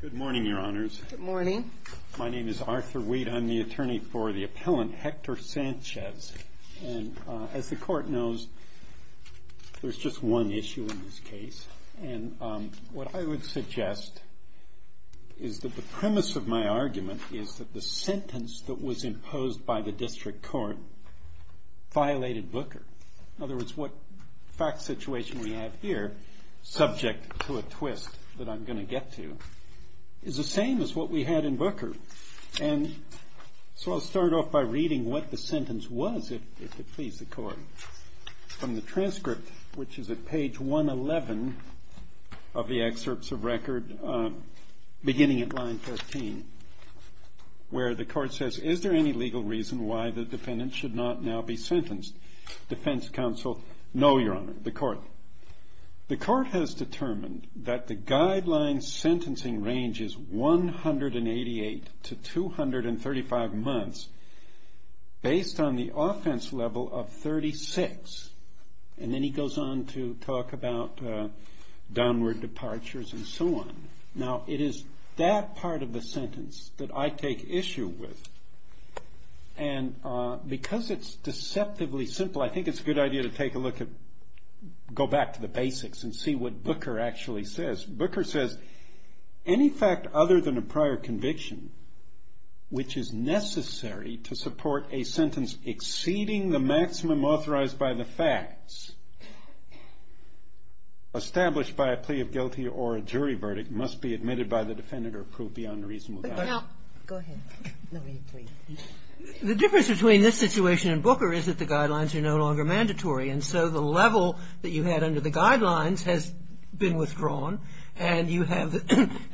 Good morning, your honors. Good morning. My name is Arthur Weed. I'm the attorney for the appellant, Hector Sanchez. And as the court knows, there's just one issue in this case. And what I would suggest is that the premise of my argument is that the sentence that was imposed by the district court violated Booker. In other words, what fact situation we have here, subject to a twist that I'm going to get to, is the same as what we had in Booker. And so I'll start off by reading what the sentence was, if it please the court, from the transcript, which is at page 111 of the excerpts of record, beginning at line 13, where the court says, is there any legal reason why the defendant should not now be sentenced? Defense counsel, no, your honor, the court. The court has determined that the guideline sentencing range is 188 to 235 months, based on the offense level of 36. And then he goes on to talk about downward departures and so on. Now, it is that part of the sentence that I take issue with. And because it's deceptively simple, I think it's a good idea to take a look at, go back to the basics and see what Booker actually says. Booker says, any fact other than a prior conviction, which is necessary to support a sentence exceeding the maximum authorized by the facts, established by a plea of guilty or a jury verdict, must be admitted by the defendant or approved beyond reasonable doubt. Go ahead. The difference between this situation and Booker is that the guidelines are no longer mandatory. And so the level that you had under the guidelines has been withdrawn. And you have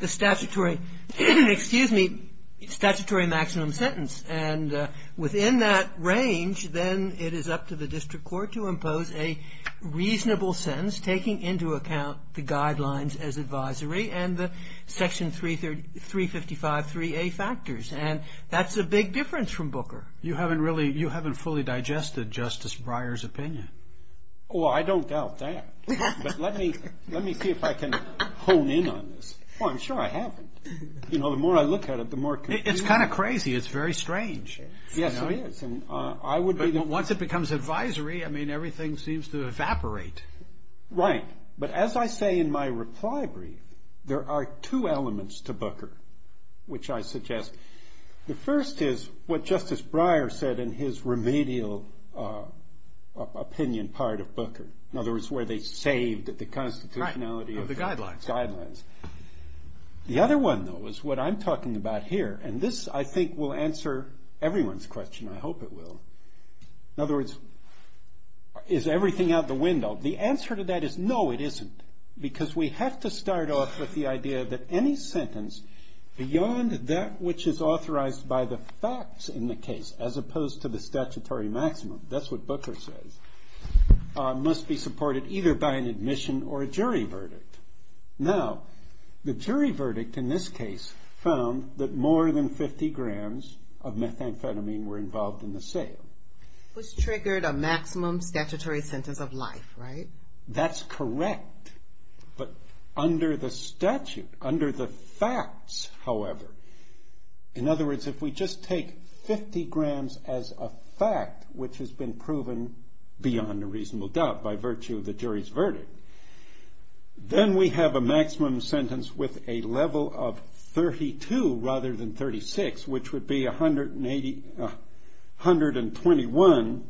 the statutory, excuse me, statutory maximum sentence. And within that range, then it is up to the district court to impose a reasonable sentence, taking into account the guidelines as advisory and the section 355.3a factors. And that's a big difference from Booker. You haven't fully digested Justice Breyer's opinion. Oh, I don't doubt that. But let me see if I can hone in on this. Oh, I'm sure I haven't. You know, the more I look at it, the more confusing it is. It's kind of crazy. It's very strange. Yes, it is. But once it becomes advisory, I mean, everything seems to evaporate. Right. But as I say in my reply brief, there are two elements to Booker, which I suggest. The first is what Justice Breyer said in his remedial opinion part of Booker. In other words, where they saved the constitutionality of the guidelines. The other one, though, is what I'm talking about here. And this, I think, will answer everyone's question. I hope it will. In other words, is everything out the window? The answer to that is no, it isn't. Because we have to start off with the idea that any sentence beyond that which is authorized by the facts in the case, as opposed to the statutory maximum, that's what Booker says, must be supported either by an admission or a jury verdict. Now, the jury verdict in this case found that more than 50 grams of methamphetamine were involved in the sale. Which triggered a maximum statutory sentence of life, right? That's correct. But under the statute, under the facts, however, in other words, if we just take 50 grams as a fact, which has been proven beyond a reasonable doubt by virtue of the jury's verdict, then we have a maximum sentence with a level of 32 rather than 36, which would be 121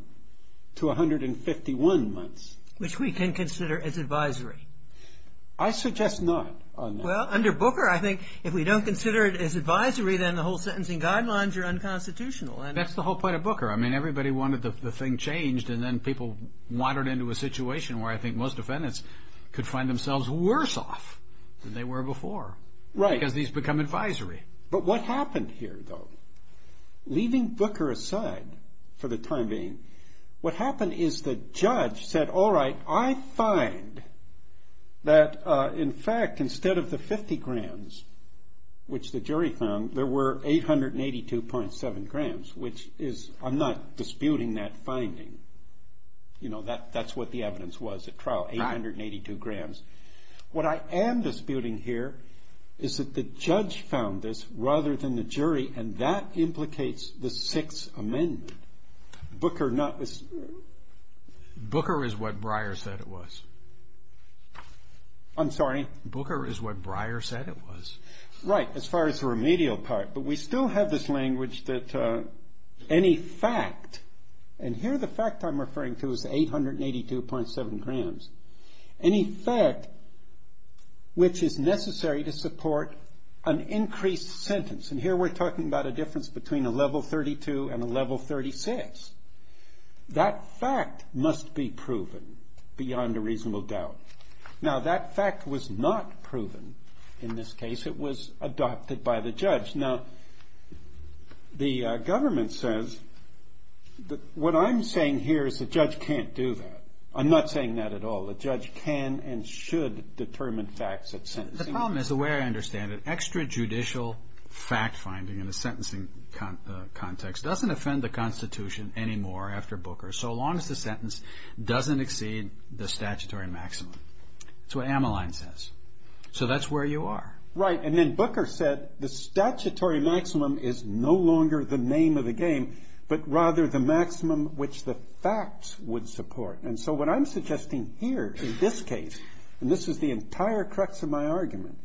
to 151 months. Which we can consider as advisory. I suggest not on that. Well, under Booker, I think if we don't consider it as advisory, then the whole sentencing guidelines are unconstitutional. That's the whole point of Booker. I mean, everybody wanted the thing changed, and then people wandered into a situation where I think most defendants could find themselves worse off than they were before. Right. Because these become advisory. But what happened here, though? Leaving Booker aside for the time being, what happened is the judge said, all right, I find that, in fact, instead of the 50 grams, which the jury found, there were 882.7 grams, which is, I'm not disputing that finding. You know, that's what the evidence was at trial, 882 grams. What I am disputing here is that the judge found this rather than the jury, and that implicates the Sixth Amendment. Booker is what Breyer said it was. I'm sorry? Booker is what Breyer said it was. Right, as far as the remedial part. But we still have this language that any fact, and here the fact I'm referring to is 882.7 grams. Any fact which is necessary to support an increased sentence, and here we're talking about a difference between a level 32 and a level 36. That fact must be proven beyond a reasonable doubt. Now, that fact was not proven in this case. It was adopted by the judge. Now, the government says that what I'm saying here is the judge can't do that. I'm not saying that at all. The judge can and should determine facts at sentencing. The problem is the way I understand it, extrajudicial fact finding in a sentencing context doesn't offend the Constitution anymore after Booker, so long as the sentence doesn't exceed the statutory maximum. That's what Ammaline says. So that's where you are. Right, and then Booker said the statutory maximum is no longer the name of the game, but rather the maximum which the facts would support. And so what I'm suggesting here in this case, and this is the entire crux of my argument,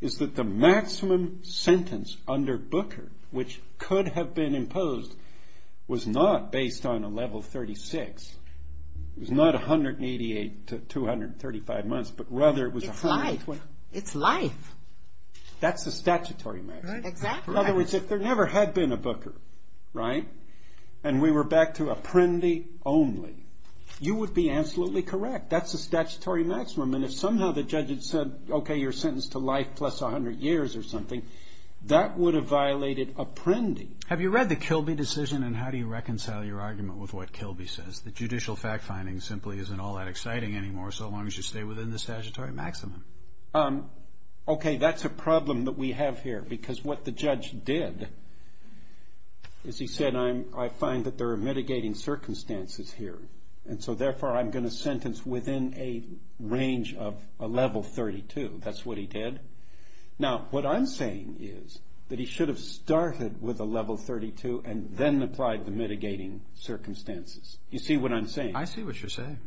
is that the maximum sentence under Booker which could have been imposed was not based on a level 36. It was not 188 to 235 months, but rather it was 128. It's life. It's life. That's the statutory maximum. Exactly. In other words, if there never had been a Booker, right, and we were back to Apprendi only, you would be absolutely correct. That's the statutory maximum. And if somehow the judge had said, okay, you're sentenced to life plus 100 years or something, that would have violated Apprendi. Have you read the Kilby decision, and how do you reconcile your argument with what Kilby says, that judicial fact finding simply isn't all that exciting anymore so long as you stay within the statutory maximum? Okay, that's a problem that we have here, because what the judge did is he said, I find that there are mitigating circumstances here, and so therefore I'm going to sentence within a range of a level 32. That's what he did. Now, what I'm saying is that he should have started with a level 32 and then applied the mitigating circumstances. You see what I'm saying? I see what you're saying.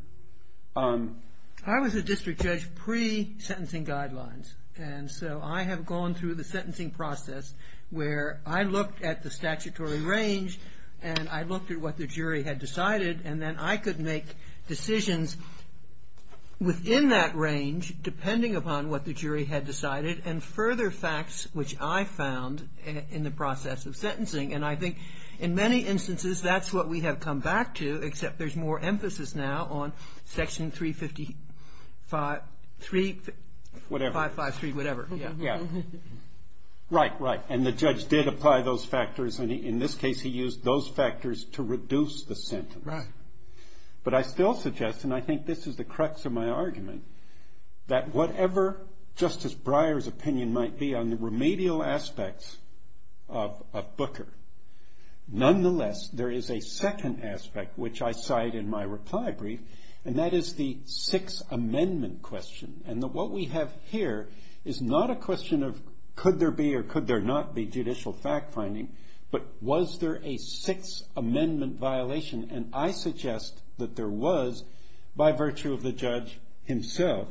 I was a district judge pre-sentencing guidelines, and so I have gone through the sentencing process where I looked at the statutory range and I looked at what the jury had decided, and then I could make decisions within that range depending upon what the jury had decided and further facts which I found in the process of sentencing. And I think in many instances that's what we have come back to, except there's more emphasis now on Section 353, whatever. Right, right, and the judge did apply those factors, and in this case he used those factors to reduce the sentence. But I still suggest, and I think this is the crux of my argument, that whatever Justice Breyer's opinion might be on the remedial aspects of Booker, nonetheless there is a second aspect which I cite in my reply brief, and that is the Sixth Amendment question. And what we have here is not a question of could there be or could there not be judicial fact-finding, but was there a Sixth Amendment violation, and I suggest that there was by virtue of the judge himself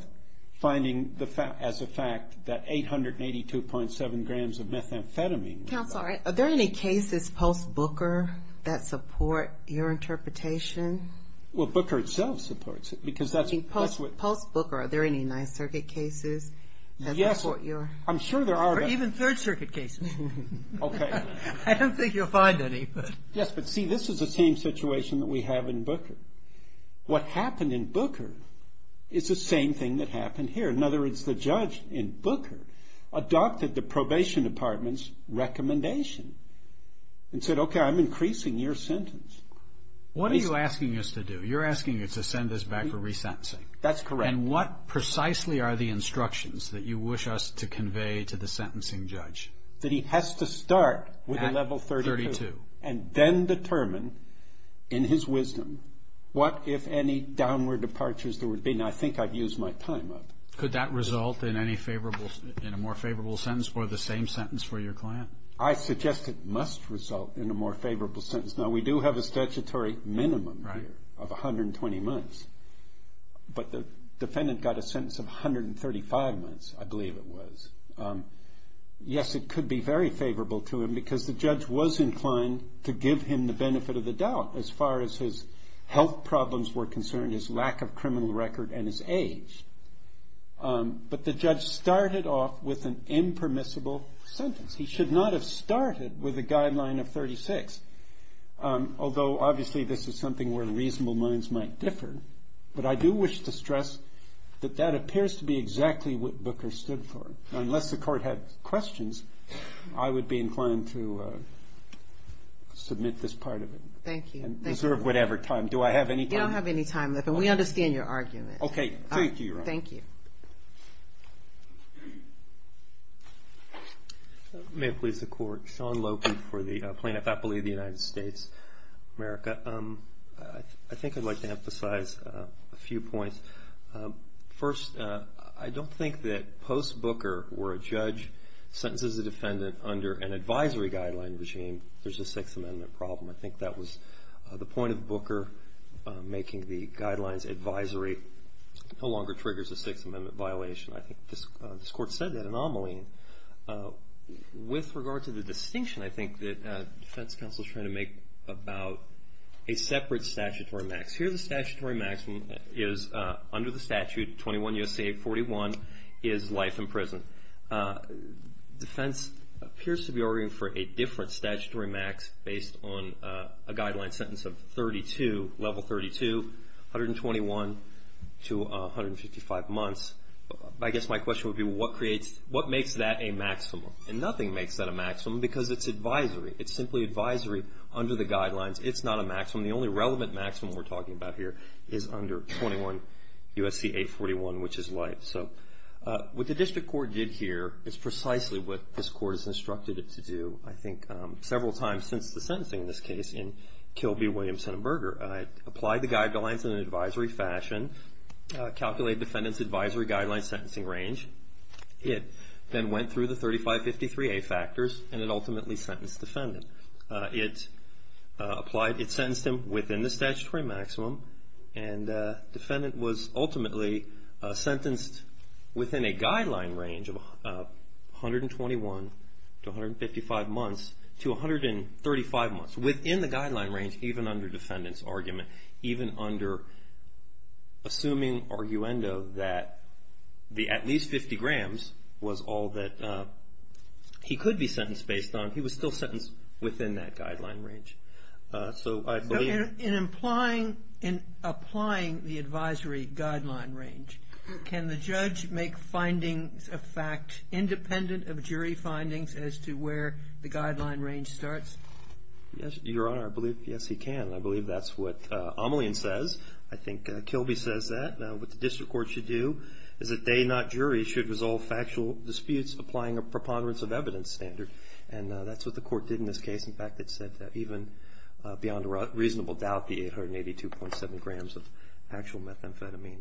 finding as a fact that 882.7 grams of methamphetamine. Counsel, are there any cases post-Booker that support your interpretation? Well, Booker itself supports it because that's what... Post-Booker, are there any Ninth Circuit cases that support your... Yes, I'm sure there are. Or even Third Circuit cases. Okay. I don't think you'll find any, but... Yes, but see, this is the same situation that we have in Booker. What happened in Booker is the same thing that happened here. In other words, the judge in Booker adopted the probation department's recommendation and said, okay, I'm increasing your sentence. What are you asking us to do? You're asking us to send this back for resentencing. That's correct. And what precisely are the instructions that you wish us to convey to the sentencing judge? That he has to start with a level 32. And then determine in his wisdom what, if any, downward departures there would be. I mean, I think I've used my time up. Could that result in a more favorable sentence or the same sentence for your client? I suggest it must result in a more favorable sentence. Now, we do have a statutory minimum here of 120 months. But the defendant got a sentence of 135 months, I believe it was. Yes, it could be very favorable to him because the judge was inclined to give him the benefit of the doubt as far as his health problems were concerned, his lack of criminal record and his age. But the judge started off with an impermissible sentence. He should not have started with a guideline of 36, although obviously this is something where reasonable minds might differ. But I do wish to stress that that appears to be exactly what Booker stood for. Unless the court had questions, I would be inclined to submit this part of it. Thank you. And reserve whatever time. Do I have any time? You don't have any time left, and we understand your argument. Okay. Thank you, Your Honor. Thank you. May it please the Court. Sean Lopey for the plaintiff, I believe, of the United States of America. I think I'd like to emphasize a few points. First, I don't think that post Booker where a judge sentences a defendant under an advisory guideline regime, there's a Sixth Amendment problem. I think that was the point of Booker making the guidelines advisory no longer triggers a Sixth Amendment violation. I think this Court said that anomaly. With regard to the distinction I think that defense counsel is trying to make about a separate statutory max. Here the statutory maximum is under the statute 21 U.S.C. 841 is life in prison. Defense appears to be arguing for a different statutory max based on a guideline sentence of level 32, 121 to 155 months. I guess my question would be what makes that a maximum? And nothing makes that a maximum because it's advisory. It's simply advisory under the guidelines. It's not a maximum. The only relevant maximum we're talking about here is under 21 U.S.C. 841, which is life. So what the District Court did here is precisely what this Court has instructed it to do, I think, several times since the sentencing in this case in Kilby Williams-Hindenburger. It applied the guidelines in an advisory fashion, calculated defendant's advisory guideline sentencing range. It then went through the 3553A factors and it ultimately sentenced the defendant. It applied, it sentenced him within the statutory maximum and defendant was ultimately sentenced within a guideline range of 121 to 155 months to 135 months. Within the guideline range even under defendant's argument, even under assuming arguendo that the at least 50 grams was all that he could be sentenced based on. He was still sentenced within that guideline range. So I believe... In applying the advisory guideline range, can the judge make findings of fact independent of jury findings as to where the guideline range starts? Yes, Your Honor. I believe, yes, he can. I believe that's what Amelian says. I think Kilby says that. What the District Court should do is that they, not jury, should resolve factual disputes applying a preponderance of evidence standard. And that's what the court did in this case. In fact, it said that even beyond reasonable doubt, the 882.7 grams of actual methamphetamine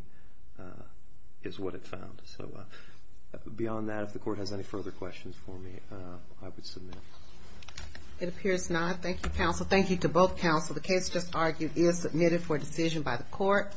is what it found. So beyond that, if the court has any further questions for me, I would submit. It appears not. Thank you, counsel. Thank you to both counsel. The case just argued is submitted for decision by the court.